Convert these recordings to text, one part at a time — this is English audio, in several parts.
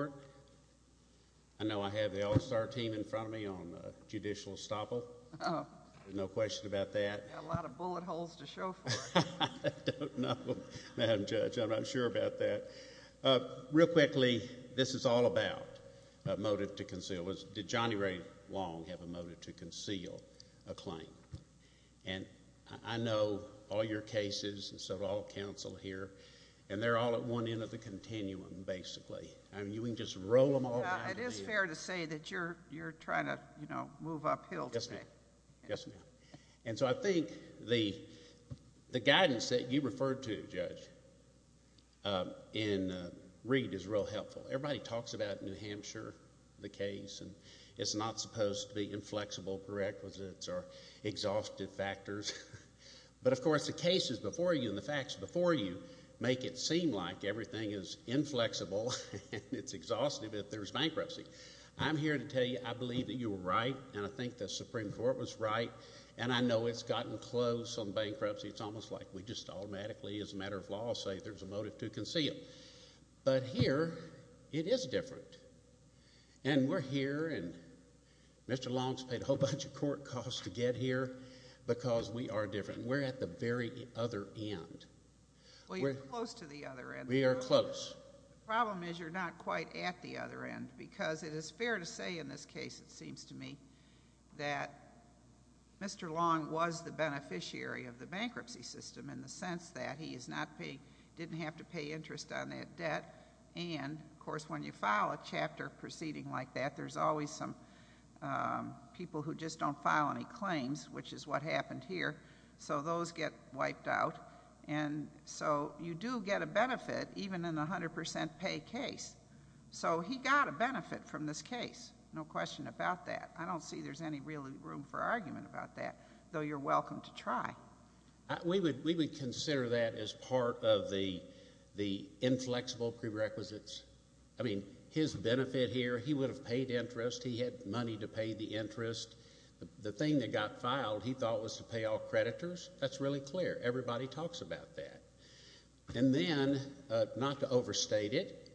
I know I have the All-Star team in front of me on judicial estoppel. Oh. No question about that. You've got a lot of bullet holes to show for it. I don't know, Madam Judge. I'm not sure about that. Real quickly, this is all about a motive to conceal. Did Johnny Ray Long have a motive to conceal a claim? And I know all your cases, and so do all the counsel here, and they're all at one end of the continuum, basically. I mean, you can just roll them all back to me. It is fair to say that you're trying to move uphill today. Yes, ma'am. Yes, ma'am. And so I think the guidance that you referred to, Judge, in Reed is real helpful. Everybody talks about New Hampshire, the case, and it's not supposed to be inflexible prerequisites or exhaustive factors. But, of course, the cases before you and the facts before you make it seem like everything is inflexible and it's exhaustive if there's bankruptcy. I'm here to tell you I believe that you were right, and I think the Supreme Court was right, and I know it's gotten close on bankruptcy. It's almost like we just automatically, as a matter of law, say there's a motive to conceal. But here it is different, and we're here, and Mr. Long's paid a whole bunch of court costs to get here because we are different. We're at the very other end. Well, you're close to the other end. We are close. The problem is you're not quite at the other end, because it is fair to say in this case, it seems to me, that Mr. Long was the beneficiary of the bankruptcy system in the sense that he didn't have to pay interest on that debt. And, of course, when you file a chapter proceeding like that, there's always some people who just don't file any claims, which is what happened here. So those get wiped out, and so you do get a benefit even in a 100% pay case. So he got a benefit from this case, no question about that. I don't see there's any really room for argument about that, though you're welcome to try. We would consider that as part of the inflexible prerequisites. I mean, his benefit here, he would have paid interest. He had money to pay the interest. The thing that got filed he thought was to pay all creditors. That's really clear. Everybody talks about that. And then, not to overstate it,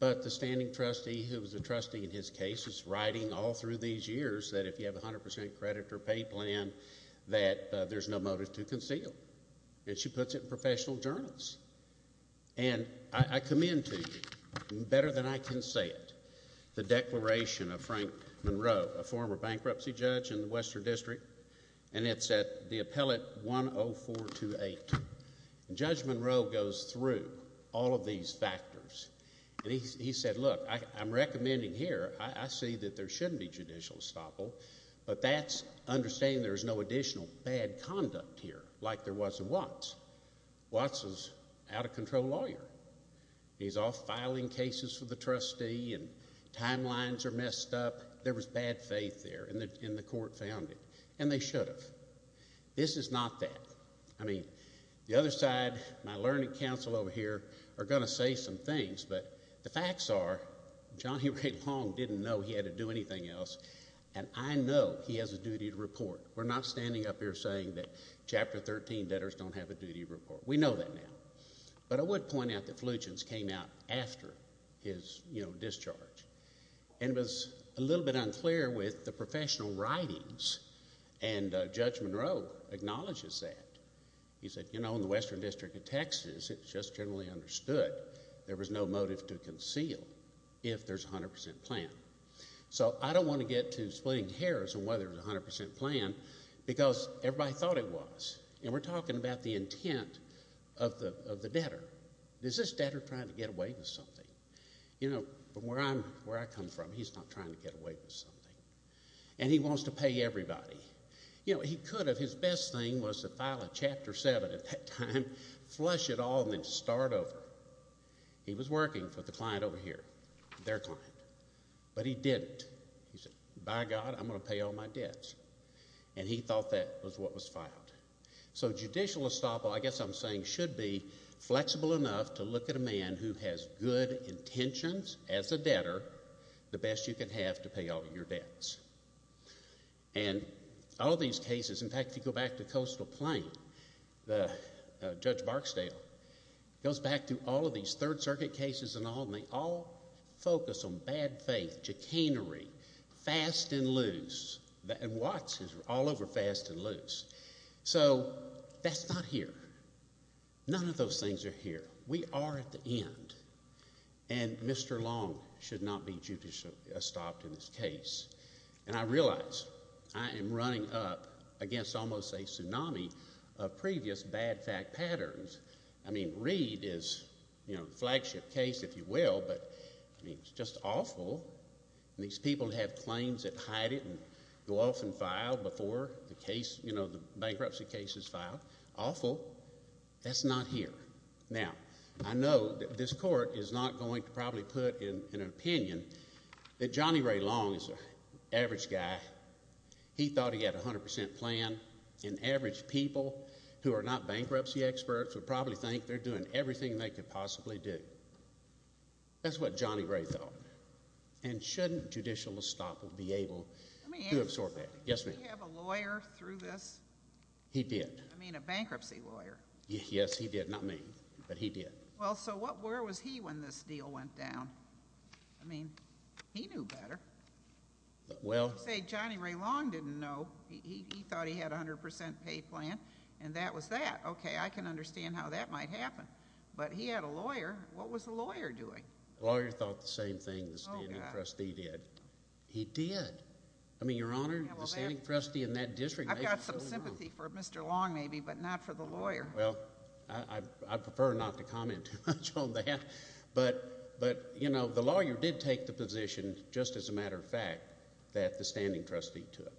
but the standing trustee who was a trustee in his case is writing all through these years that if you have a 100% credit or pay plan, that there's no motive to conceal. And she puts it in professional journals. And I commend to you, better than I can say it, the declaration of Frank Monroe, a former bankruptcy judge in the Western District, and it's at the appellate 10428. Judge Monroe goes through all of these factors, and he said, Look, I'm recommending here, I see that there shouldn't be judicial estoppel, but that's understanding there's no additional bad conduct here like there was in Watts. Watts is an out-of-control lawyer. He's off filing cases for the trustee and timelines are messed up. There was bad faith there, and the court found it. And they should have. This is not that. I mean, the other side, my learning council over here, are going to say some things, but the facts are Johnny Ray Long didn't know he had to do anything else, and I know he has a duty to report. We're not standing up here saying that Chapter 13 debtors don't have a duty to report. We know that now. But I would point out that Fluchin's came out after his discharge, and it was a little bit unclear with the professional writings, and Judge Monroe acknowledges that. He said, You know, in the Western District of Texas, it's just generally understood there was no motive to conceal if there's a 100% plan. So I don't want to get to splitting hairs on whether there's a 100% plan because everybody thought it was, and we're talking about the intent of the debtor. Is this debtor trying to get away with something? You know, from where I come from, he's not trying to get away with something, and he wants to pay everybody. You know, he could have. His best thing was to file a Chapter 7 at that time, flush it all, and then start over. He was working for the client over here, their client, but he didn't. He said, By God, I'm going to pay all my debts. And he thought that was what was filed. So judicial estoppel, I guess I'm saying, should be flexible enough to look at a man who has good intentions as a debtor, the best you can have to pay all your debts. And all these cases, in fact, if you go back to Coastal Plain, Judge Barksdale, goes back to all of these Third Circuit cases and all, and they all focus on bad faith, chicanery, fast and loose, and Watts is all over fast and loose. So that's not here. None of those things are here. We are at the end, and Mr. Long should not be judicially estopped in this case. And I realize I am running up against almost a tsunami of previous bad fact patterns. I mean, Reed is a flagship case, if you will, but, I mean, it's just awful. These people have claims that hide it and go off and file before the bankruptcy case is filed. Awful. That's not here. Now, I know that this court is not going to probably put in an opinion that Johnny Ray Long is an average guy. He thought he had a 100% plan, and average people who are not bankruptcy experts would probably think they're doing everything they could possibly do. That's what Johnny Ray thought. And shouldn't judicial estoppel be able to absorb that? Yes, ma'am. Did he have a lawyer through this? He did. I mean, a bankruptcy lawyer. Yes, he did. Not me, but he did. Well, so where was he when this deal went down? I mean, he knew better. Well. Say Johnny Ray Long didn't know. He thought he had a 100% pay plan, and that was that. Okay, I can understand how that might happen. But he had a lawyer. What was the lawyer doing? The lawyer thought the same thing the standing trustee did. He did. I mean, Your Honor, the standing trustee in that district. I've got some sympathy for Mr. Long, maybe, but not for the lawyer. Well, I prefer not to comment too much on that. But, you know, the lawyer did take the position, just as a matter of fact, that the standing trustee took.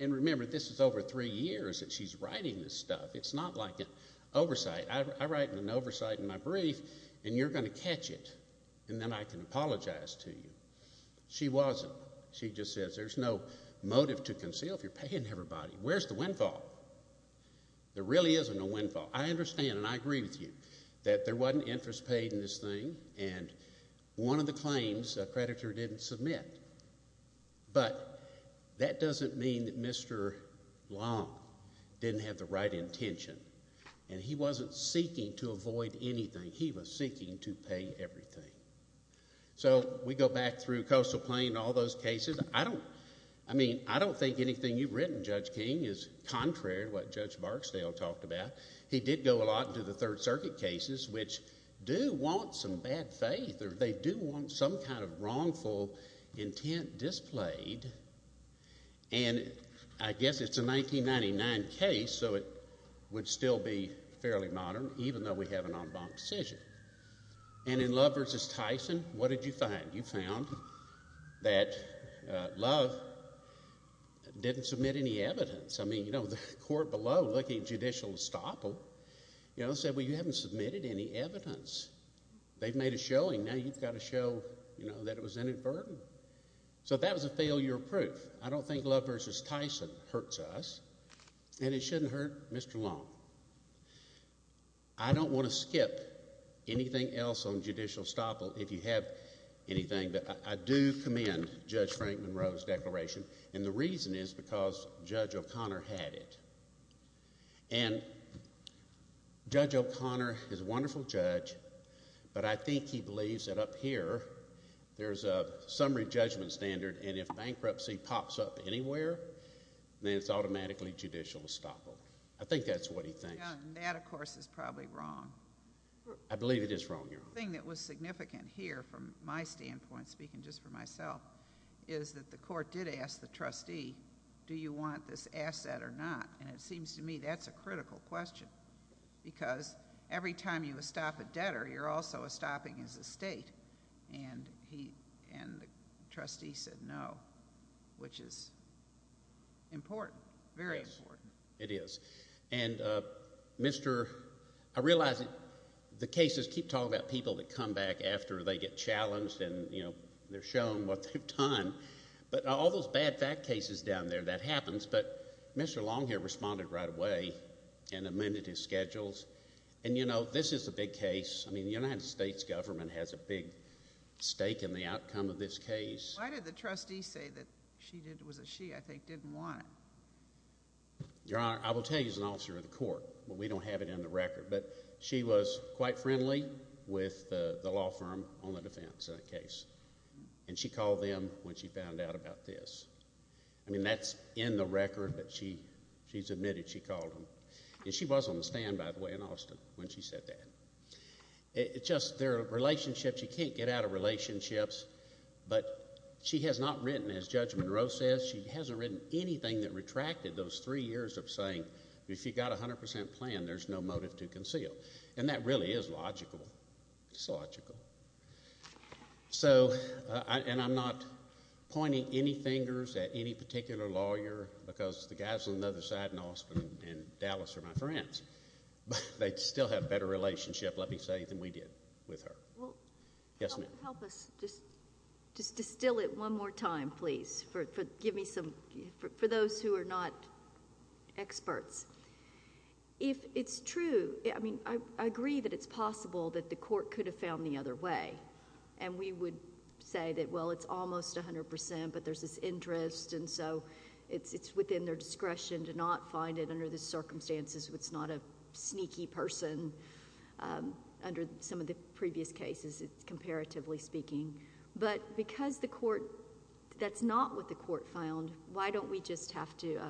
And remember, this is over three years that she's writing this stuff. It's not like an oversight. I write an oversight in my brief, and you're going to catch it, and then I can apologize to you. She wasn't. She just says there's no motive to conceal if you're paying everybody. Where's the windfall? There really isn't a windfall. I understand, and I agree with you, that there wasn't interest paid in this thing, and one of the claims a creditor didn't submit. But that doesn't mean that Mr. Long didn't have the right intention, and he wasn't seeking to avoid anything. He was seeking to pay everything. So we go back through Coastal Plain and all those cases. I don't think anything you've written, Judge King, is contrary to what Judge Barksdale talked about. He did go a lot into the Third Circuit cases, which do want some bad faith, or they do want some kind of wrongful intent displayed. And I guess it's a 1999 case, so it would still be fairly modern, even though we have an en banc decision. And in Love v. Tyson, what did you find? You found that Love didn't submit any evidence. I mean, you know, the court below looking at judicial estoppel said, well, you haven't submitted any evidence. They've made a showing. Now you've got to show that it was inadvertent. So that was a failure of proof. I don't think Love v. Tyson hurts us, and it shouldn't hurt Mr. Long. I don't want to skip anything else on judicial estoppel, if you have anything, but I do commend Judge Frank Monroe's declaration, and the reason is because Judge O'Connor had it. And Judge O'Connor is a wonderful judge, but I think he believes that up here there's a summary judgment standard, and if bankruptcy pops up anywhere, then it's automatically judicial estoppel. I think that's what he thinks. That, of course, is probably wrong. I believe it is wrong, Your Honor. The thing that was significant here from my standpoint, speaking just for myself, is that the court did ask the trustee, do you want this asset or not? And it seems to me that's a critical question because every time you estop a debtor, you're also estopping his estate, and the trustee said no, which is important, very important. It is, and I realize the cases keep talking about people that come back after they get challenged and they're shown what they've done, but all those bad fact cases down there, that happens, but Mr. Long here responded right away and amended his schedules. And, you know, this is a big case. I mean, the United States government has a big stake in the outcome of this case. Why did the trustee say that she didn't want it? Your Honor, I will tell you as an officer of the court, but we don't have it in the record, but she was quite friendly with the law firm on the defense in that case, and she called them when she found out about this. I mean, that's in the record, but she's admitted she called them. And she was on the stand, by the way, in Austin when she said that. It's just their relationship, you can't get out of relationships, but she has not written, as Judge Monroe says, she hasn't written anything that retracted those three years of saying if you've got a 100 percent plan, there's no motive to conceal. And that really is logical. It's logical. So, and I'm not pointing any fingers at any particular lawyer because the guys on the other side in Austin and Dallas are my friends, but they still have a better relationship, let me say, than we did with her. Well, help us just distill it one more time, please, for those who are not experts. If it's true, I mean, I agree that it's possible that the court could have found the other way. And we would say that, well, it's almost 100 percent, but there's this interest, and so it's within their discretion to not find it under the circumstances. It's not a sneaky person under some of the previous cases, comparatively speaking. But because the court, that's not what the court found, why don't we just have to,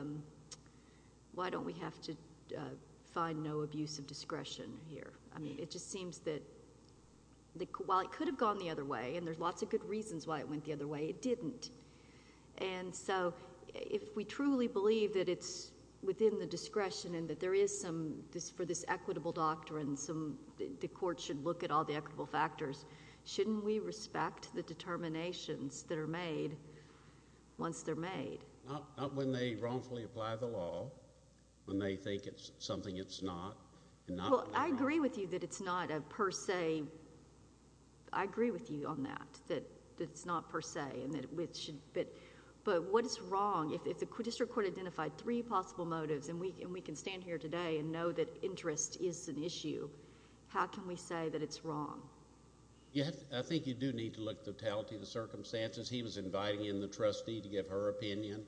why don't we have to find no abuse of discretion here? I mean, it just seems that while it could have gone the other way, and there's lots of good reasons why it went the other way, it didn't. And so if we truly believe that it's within the discretion and that there is some, for this equitable doctrine, the court should look at all the equitable factors, shouldn't we respect the determinations that are made once they're made? Not when they wrongfully apply the law, when they think it's something it's not. Well, I agree with you that it's not a per se, I agree with you on that, that it's not per se. But what is wrong? If the district court identified three possible motives, and we can stand here today and know that interest is an issue, how can we say that it's wrong? I think you do need to look at the totality of the circumstances. He was inviting in the trustee to give her opinion.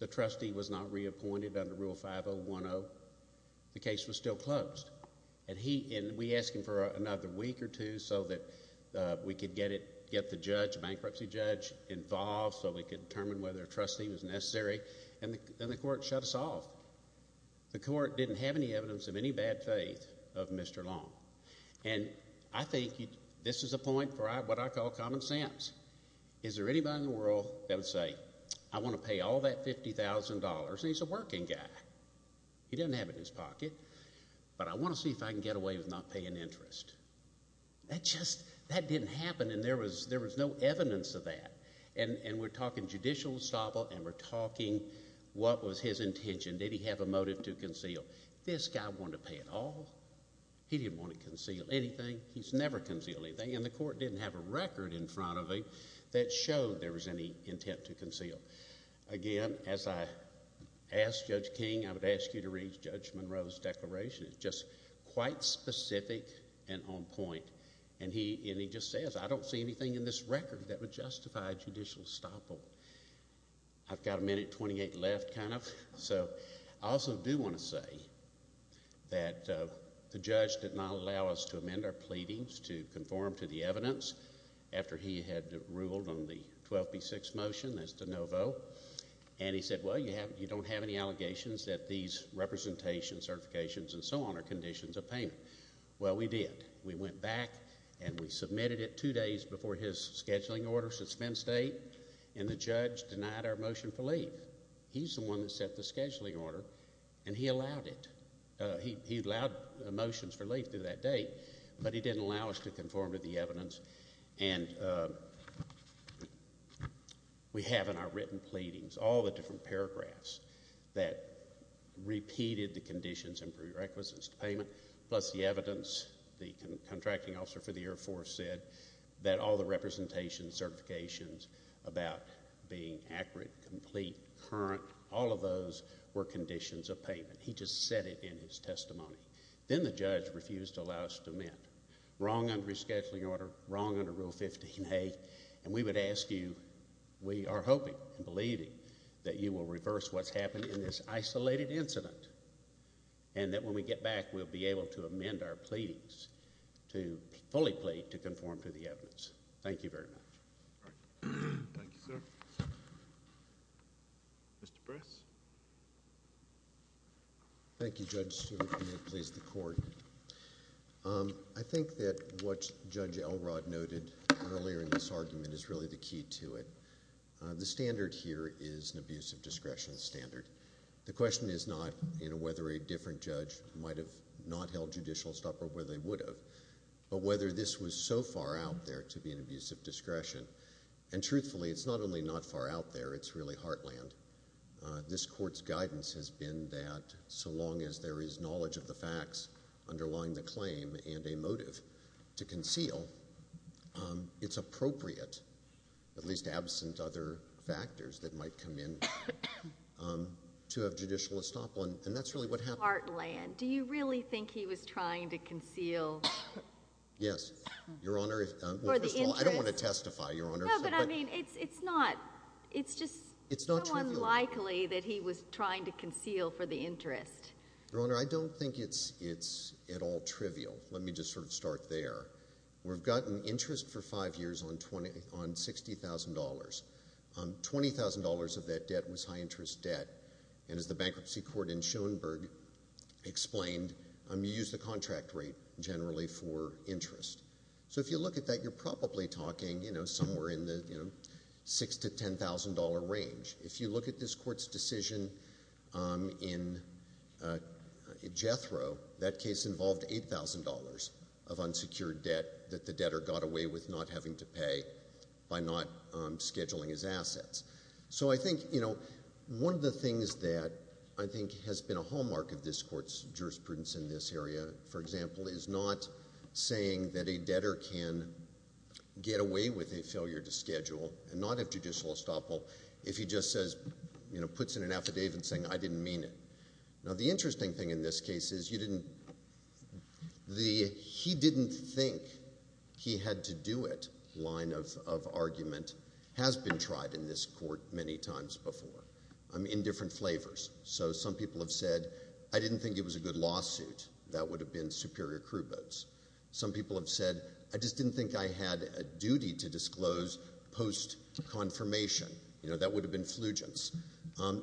The trustee was not reappointed under Rule 5010. So the case was still closed. And we asked him for another week or two so that we could get the judge, the bankruptcy judge, involved so we could determine whether a trustee was necessary, and then the court shut us off. The court didn't have any evidence of any bad faith of Mr. Long. And I think this is a point for what I call common sense. Is there anybody in the world that would say, I want to pay all that $50,000. He's a working guy. He doesn't have it in his pocket. But I want to see if I can get away with not paying interest. That didn't happen, and there was no evidence of that. And we're talking judicial establishment, and we're talking what was his intention. Did he have a motive to conceal? This guy wanted to pay it all. He didn't want to conceal anything. He's never concealed anything, and the court didn't have a record in front of him that showed there was any intent to conceal. Again, as I asked Judge King, I would ask you to read Judge Monroe's declaration. It's just quite specific and on point. And he just says, I don't see anything in this record that would justify judicial estoppel. I've got a minute 28 left, kind of. So I also do want to say that the judge did not allow us to amend our pleadings to conform to the evidence after he had ruled on the 12B6 motion, that's de novo. And he said, well, you don't have any allegations that these representations, certifications, and so on are conditions of payment. Well, we did. We went back and we submitted it 2 days before his scheduling order suspense date, and the judge denied our motion for leave. He's the one that set the scheduling order, and he allowed it. He allowed motions for leave through that date, but he didn't allow us to conform to the evidence. And we have in our written pleadings all the different paragraphs that repeated the conditions and prerequisites to payment, plus the evidence. The contracting officer for the Air Force said that all the representations, certifications, about being accurate, complete, current, all of those were conditions of payment. He just said it in his testimony. Then the judge refused to allow us to amend. Wrong under his scheduling order. Wrong under Rule 15A. And we would ask you, we are hoping and believing that you will reverse what's happened in this isolated incident, and that when we get back, we'll be able to amend our pleadings, to fully plead to conform to the evidence. Thank you very much. Thank you, sir. Mr. Briss? Thank you, Judge Stewart. If you may, please, the court. I think that what Judge Elrod noted earlier in this argument is really the key to it. The standard here is an abuse of discretion standard. The question is not whether a different judge might have not held judicial stopper, whether they would have, but whether this was so far out there to be an abuse of discretion. And truthfully, it's not only not far out there, it's really heartland. This court's guidance has been that so long as there is knowledge of the facts underlying the claim and a motive to conceal, it's appropriate, at least absent other factors that might come in, to have judicial estoppel. And that's really what happened. Heartland. Do you really think he was trying to conceal? Yes. Your Honor, first of all, I don't want to testify, Your Honor. No, but I mean, it's not. It's just so unlikely that he was trying to conceal for the interest. Your Honor, I don't think it's at all trivial. Let me just sort of start there. We've gotten interest for five years on $60,000. $20,000 of that debt was high-interest debt. And as the bankruptcy court in Schoenberg explained, you use the contract rate generally for interest. So if you look at that, you're probably talking, you know, somewhere in the $6,000 to $10,000 range. If you look at this court's decision in Jethro, that case involved $8,000 of unsecured debt that the debtor got away with not having to pay by not scheduling his assets. So I think, you know, one of the things that I think has been a hallmark of this court's jurisprudence in this area, for example, is not saying that a debtor can get away with a failure to schedule and not have judicial estoppel if he just says, you know, puts in an affidavit saying, I didn't mean it. Now, the interesting thing in this case is you didn't, the he didn't think he had to do it line of argument has been tried in this court many times before in different flavors. So some people have said, I didn't think it was a good lawsuit. That would have been superior crew boats. Some people have said, I just didn't think I had a duty to disclose post-confirmation. You know, that would have been flugence.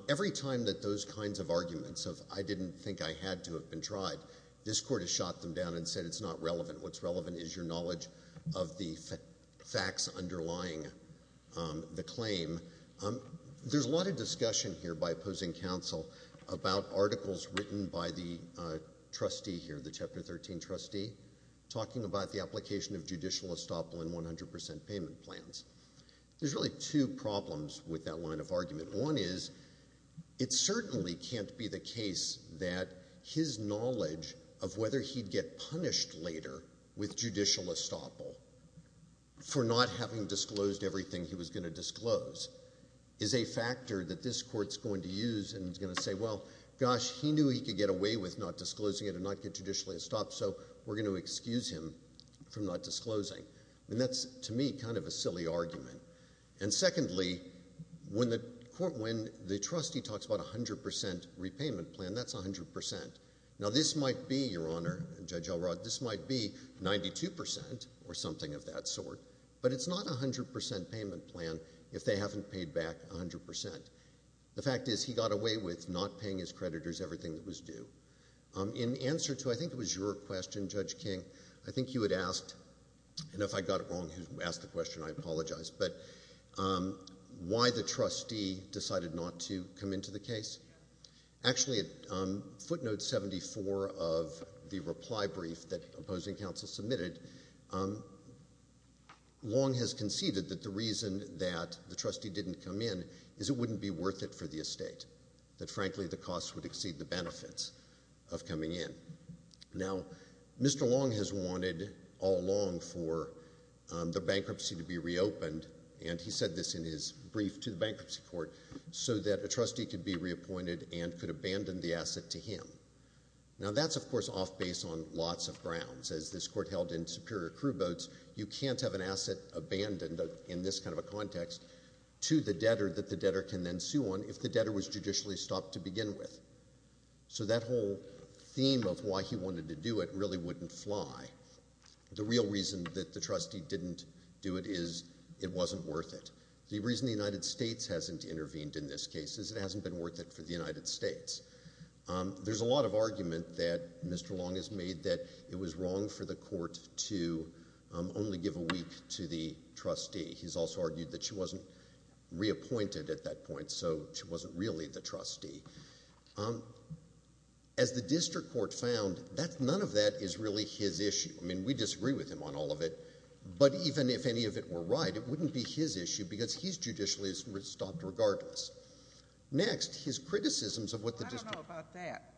Every time that those kinds of arguments of I didn't think I had to have been tried, this court has shot them down and said it's not relevant. What's relevant is your knowledge of the facts underlying the claim. There's a lot of discussion here by opposing counsel about articles written by the trustee here, the chapter 13 trustee, talking about the application of judicial estoppel in 100% payment plans. There's really two problems with that line of argument. One is it certainly can't be the case that his knowledge of whether he'd get punished later with judicial estoppel for not having disclosed everything he was going to disclose is a factor that this court's going to use and is going to say, well, gosh, he knew he could get away with not disclosing it and not get judicially estopped, so we're going to excuse him from not disclosing. And that's, to me, kind of a silly argument. And secondly, when the trustee talks about 100% repayment plan, that's 100%. Now, this might be, Your Honor, Judge Elrod, this might be 92% or something of that sort, but it's not a 100% payment plan if they haven't paid back 100%. The fact is he got away with not paying his creditors for disclosing everything that was due. In answer to, I think it was your question, Judge King, I think you had asked, and if I got it wrong, you asked the question, I apologize, but why the trustee decided not to come into the case. Actually, footnote 74 of the reply brief that opposing counsel submitted long has conceded that the reason that the trustee didn't come in is it wouldn't be worth it for the estate, that, frankly, the costs would exceed the benefits of coming in. Now, Mr. Long has wanted all along for the bankruptcy to be reopened, and he said this in his brief to the bankruptcy court, so that a trustee could be reappointed and could abandon the asset to him. Now, that's, of course, off base on lots of grounds. As this court held in Superior Crew Boats, you can't have an asset abandoned in this kind of a context to the debtor that the debtor can then sue on if the debtor was judicially stopped to begin with. So that whole theme of why he wanted to do it really wouldn't fly. The real reason that the trustee didn't do it is it wasn't worth it. The reason the United States hasn't intervened in this case is it hasn't been worth it for the United States. There's a lot of argument that Mr. Long has made that it was wrong for the court to only give a week to the trustee. He's also argued that she wasn't reappointed at that point, so she wasn't really the trustee. As the district court found, none of that is really his issue. I mean, we disagree with him on all of it, but even if any of it were right, it wouldn't be his issue because he's judicially stopped regardless. Next, his criticisms of what the district court... I don't know about that.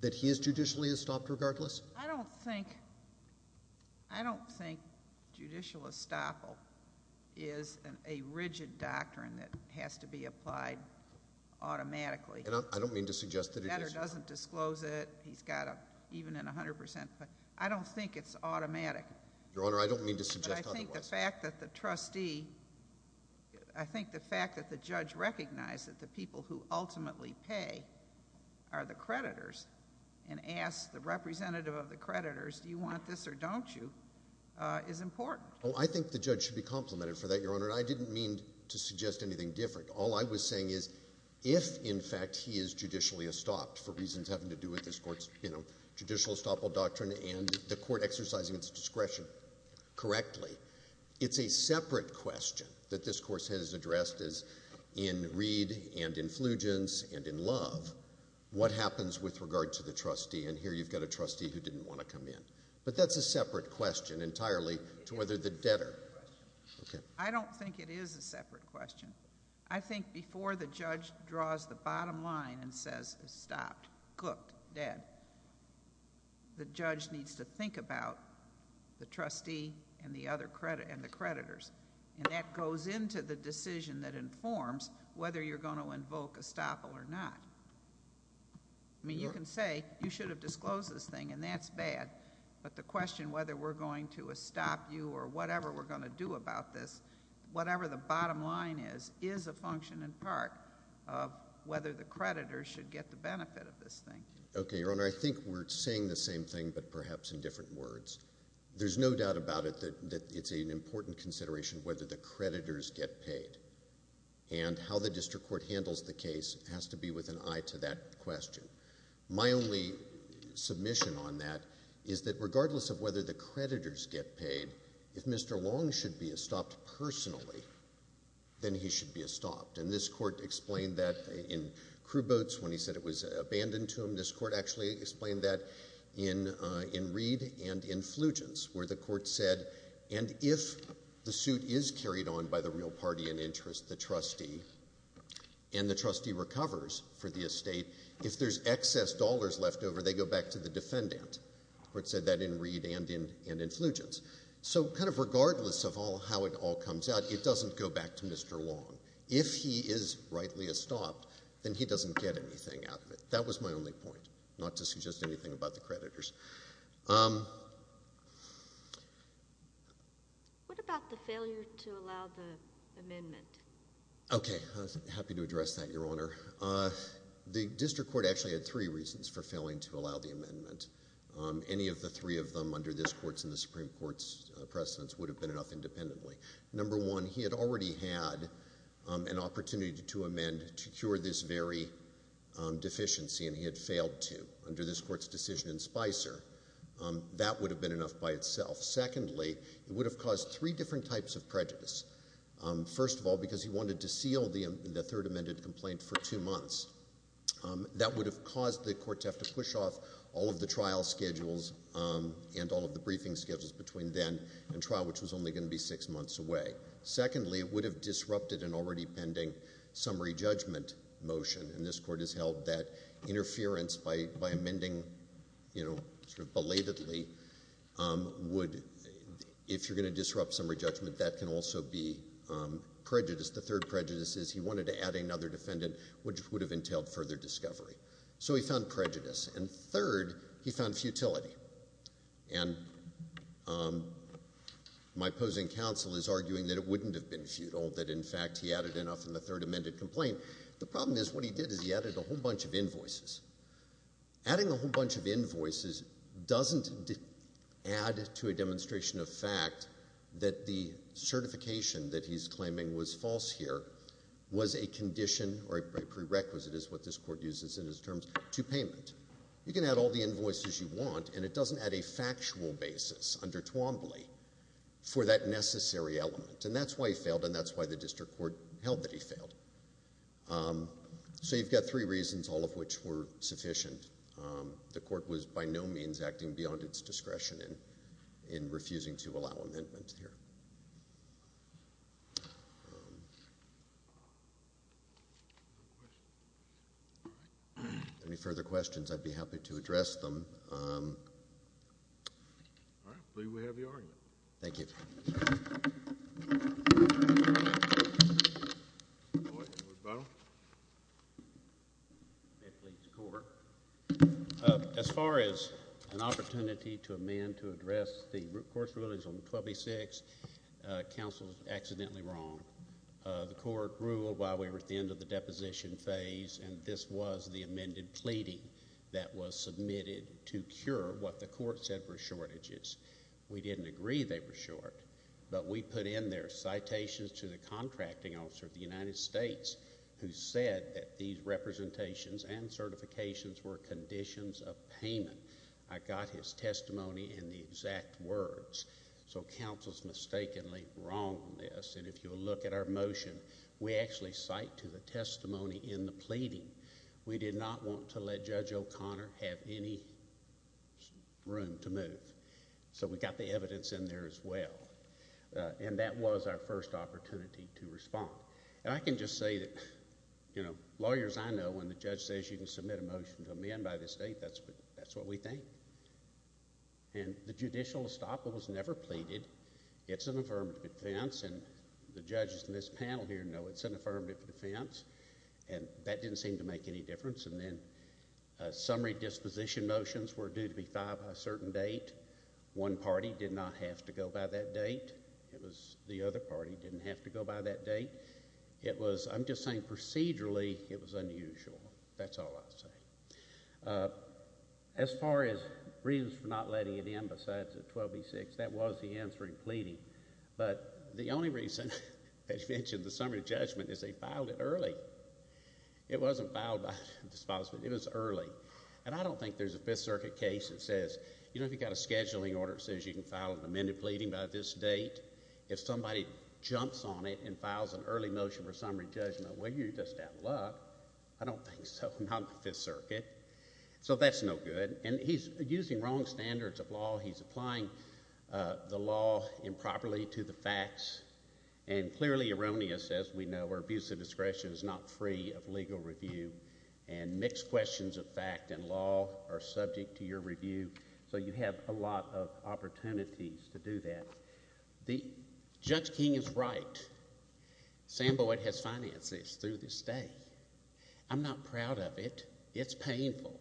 That he is judicially stopped regardless? I don't think... I don't think judicial estoppel is a rigid doctrine that has to be applied automatically. I don't mean to suggest that it is. The letter doesn't disclose it. He's got an even and 100%... I don't think it's automatic. Your Honour, I don't mean to suggest otherwise. But I think the fact that the trustee... I think the fact that the judge recognized that the people who ultimately pay are the creditors and asked the representative of the creditors, do you want this or don't you, is important. Oh, I think the judge should be complimented for that, Your Honour. I didn't mean to suggest anything different. All I was saying is if, in fact, he is judicially estopped for reasons having to do with this court's, you know, judicial estoppel doctrine and the court exercising its discretion correctly, it's a separate question that this course has addressed as in Reed and in Flugens and in Love, what happens with regard to the trustee. And here you've got a trustee who didn't want to come in. But that's a separate question entirely to whether the debtor... I don't think it is a separate question. I think before the judge draws the bottom line and says, estopped, cooked, dead, the judge needs to think about the trustee and the creditors. And that goes into the decision that informs whether you're going to invoke estoppel or not. I mean, you can say, you should have disclosed this thing, and that's bad. But the question whether we're going to estop you or whatever we're going to do about this, whatever the bottom line is, is a function in part of whether the creditors should get the benefit of this thing. Okay, Your Honor, I think we're saying the same thing but perhaps in different words. There's no doubt about it that it's an important consideration whether the creditors get paid. And how the district court handles the case has to be with an eye to that question. My only submission on that is that regardless of whether the creditors get paid, if Mr. Long should be estopped personally, then he should be estopped. And this court explained that in Crew Boats when he said it was abandoned to him. This court actually explained that in Reed and in Flugence where the court said, and if the suit is carried on by the real party in interest, the trustee, and the trustee recovers for the estate, if there's excess dollars left over, they go back to the defendant. The court said that in Reed and in Flugence. So kind of regardless of how it all comes out, it doesn't go back to Mr. Long. If he is rightly estopped, then he doesn't get anything out of it. That was my only point, not to suggest anything about the creditors. What about the failure to allow the amendment? Okay, happy to address that, Your Honor. The district court actually had three reasons for failing to allow the amendment. Any of the three of them under this court's and the Supreme Court's precedence would have been enough independently. Number one, he had already had an opportunity to amend to cure this very deficiency, and he had failed to under this court's decision in Spicer. That would have been enough by itself. Secondly, it would have caused three different types of prejudice. First of all, because he wanted to seal the third amended complaint for two months. That would have caused the court to have to push off all of the trial schedules and all of the briefing schedules between then and trial, which was only going to be six months away. Secondly, it would have disrupted an already pending summary judgment motion, and this court has held that interference by amending sort of belatedly would, if you're going to disrupt summary judgment, that can also be prejudice. The third prejudice is he wanted to add another defendant, which would have entailed further discovery. So he found prejudice. And third, he found futility. And my opposing counsel is arguing that it wouldn't have been futile, that, in fact, he added enough in the third amended complaint. The problem is what he did is he added a whole bunch of invoices. Adding a whole bunch of invoices doesn't add to a demonstration of fact that the certification that he's claiming was false here was a condition or a prerequisite, is what this court uses in its terms, to payment. You can add all the invoices you want, and it doesn't add a factual basis under Twombly for that necessary element. And that's why he failed, and that's why the district court held that he failed. So you've got three reasons, all of which were sufficient. The court was by no means acting beyond its discretion in refusing to allow amendments here. Any further questions, I'd be happy to address them. All right, I believe we have your argument. Thank you. Thank you. As far as an opportunity to amend to address the court's rulings on 1286, counsel is accidentally wrong. The court ruled while we were at the end of the deposition phase, and this was the amended pleading that was submitted to cure what the court said were shortages. We didn't agree they were short, but we put in there citations to the contracting officer of the United States who said that these representations and certifications were conditions of payment. I got his testimony in the exact words. So counsel's mistakenly wrong on this, and if you'll look at our motion, we actually cite to the testimony in the pleading. We did not want to let Judge O'Connor have any room to move. So we got the evidence in there as well, and that was our first opportunity to respond. And I can just say that, you know, lawyers, I know, when the judge says you can submit a motion to amend by the state, that's what we think. And the judicial estoppel was never pleaded. It's an affirmative defense, and the judges in this panel here know it's an affirmative defense, and that didn't seem to make any difference. And then summary disposition motions were due to be filed by a certain date. One party did not have to go by that date. It was the other party didn't have to go by that date. It was, I'm just saying procedurally, it was unusual. That's all I'll say. As far as reasons for not letting it in besides the 12B-6, that was the answer in pleading. But the only reason, as you mentioned, the summary judgment, is they filed it early. It wasn't filed by disposition. It was early. And I don't think there's a Fifth Circuit case that says, you know, if you've got a scheduling order that says you can file an amended pleading by this date, if somebody jumps on it and files an early motion for summary judgment, well, you're just out of luck. I don't think so. Not in the Fifth Circuit. So that's no good. And he's using wrong standards of law. He's applying the law improperly to the facts and clearly erroneous, as we know, where abuse of discretion is not free of legal review and mixed questions of fact and law are subject to your review. So you have a lot of opportunities to do that. Judge King is right. Sam Boyd has financed this through this day. I'm not proud of it. It's painful.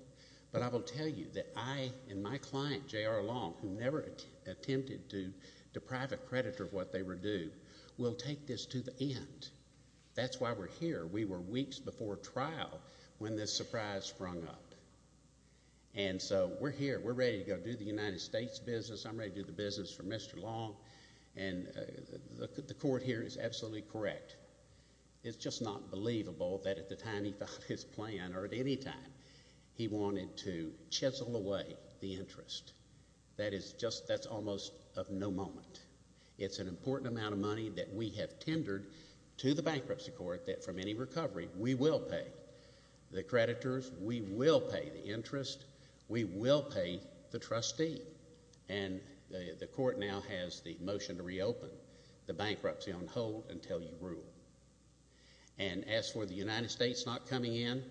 But I will tell you that I and my client, J.R. Long, who never attempted to deprive a creditor of what they were due, will take this to the end. That's why we're here. We were weeks before trial when this surprise sprung up. And so we're here. We're ready to go do the United States business. I'm ready to do the business for Mr. Long. And the court here is absolutely correct. It's just not believable that at the time he thought his plan, or at any time, he wanted to chisel away the interest. That is just almost of no moment. It's an important amount of money that we have tendered to the bankruptcy court that from any recovery we will pay. The creditors, we will pay. The interest, we will pay the trustee. And the court now has the motion to reopen the bankruptcy on hold until you rule. And as for the United States not coming in,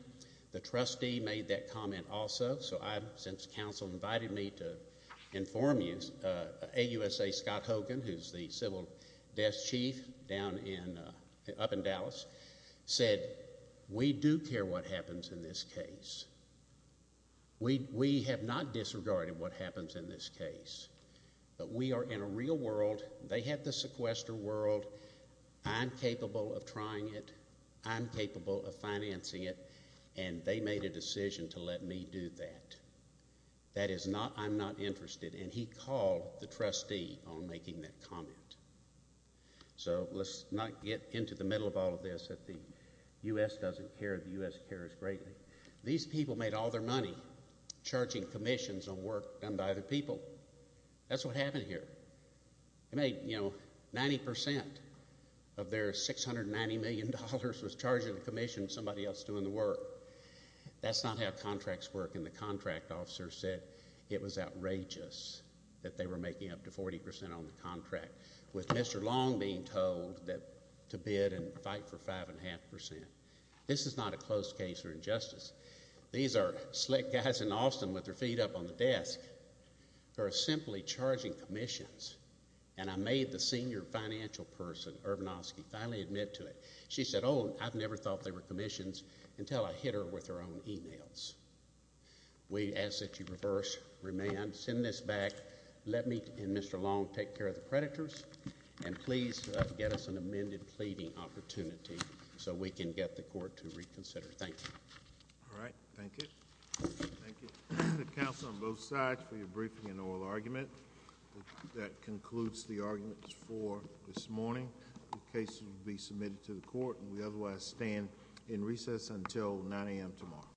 the trustee made that comment also. So since counsel invited me to inform you, AUSA Scott Hogan, who's the civil desk chief up in Dallas, said we do care what happens in this case. We have not disregarded what happens in this case. But we are in a real world. They have the sequester world. I'm capable of trying it. I'm capable of financing it. And they made a decision to let me do that. That is not I'm not interested. And he called the trustee on making that comment. So let's not get into the middle of all of this. The U.S. doesn't care. The U.S. cares greatly. These people made all their money charging commissions on work done by other people. That's what happened here. They made, you know, 90% of their $690 million was charging the commission to somebody else doing the work. That's not how contracts work. And the contract officer said it was outrageous that they were making up to 40% on the contract, with Mr. Long being told to bid and fight for 5.5%. This is not a closed case or injustice. These are slick guys in Austin with their feet up on the desk. They're simply charging commissions. And I made the senior financial person, Urbanowski, finally admit to it. She said, oh, I never thought they were commissions until I hit her with her own e-mails. We ask that you reverse, remand, send this back. Let me and Mr. Long take care of the predators. And please get us an amended pleading opportunity so we can get the court to reconsider. Thank you. All right. Thank you. Thank you to the counsel on both sides for your briefing and oral argument. That concludes the arguments for this morning. The case will be submitted to the court, and we otherwise stand in recess until 9 a.m. tomorrow.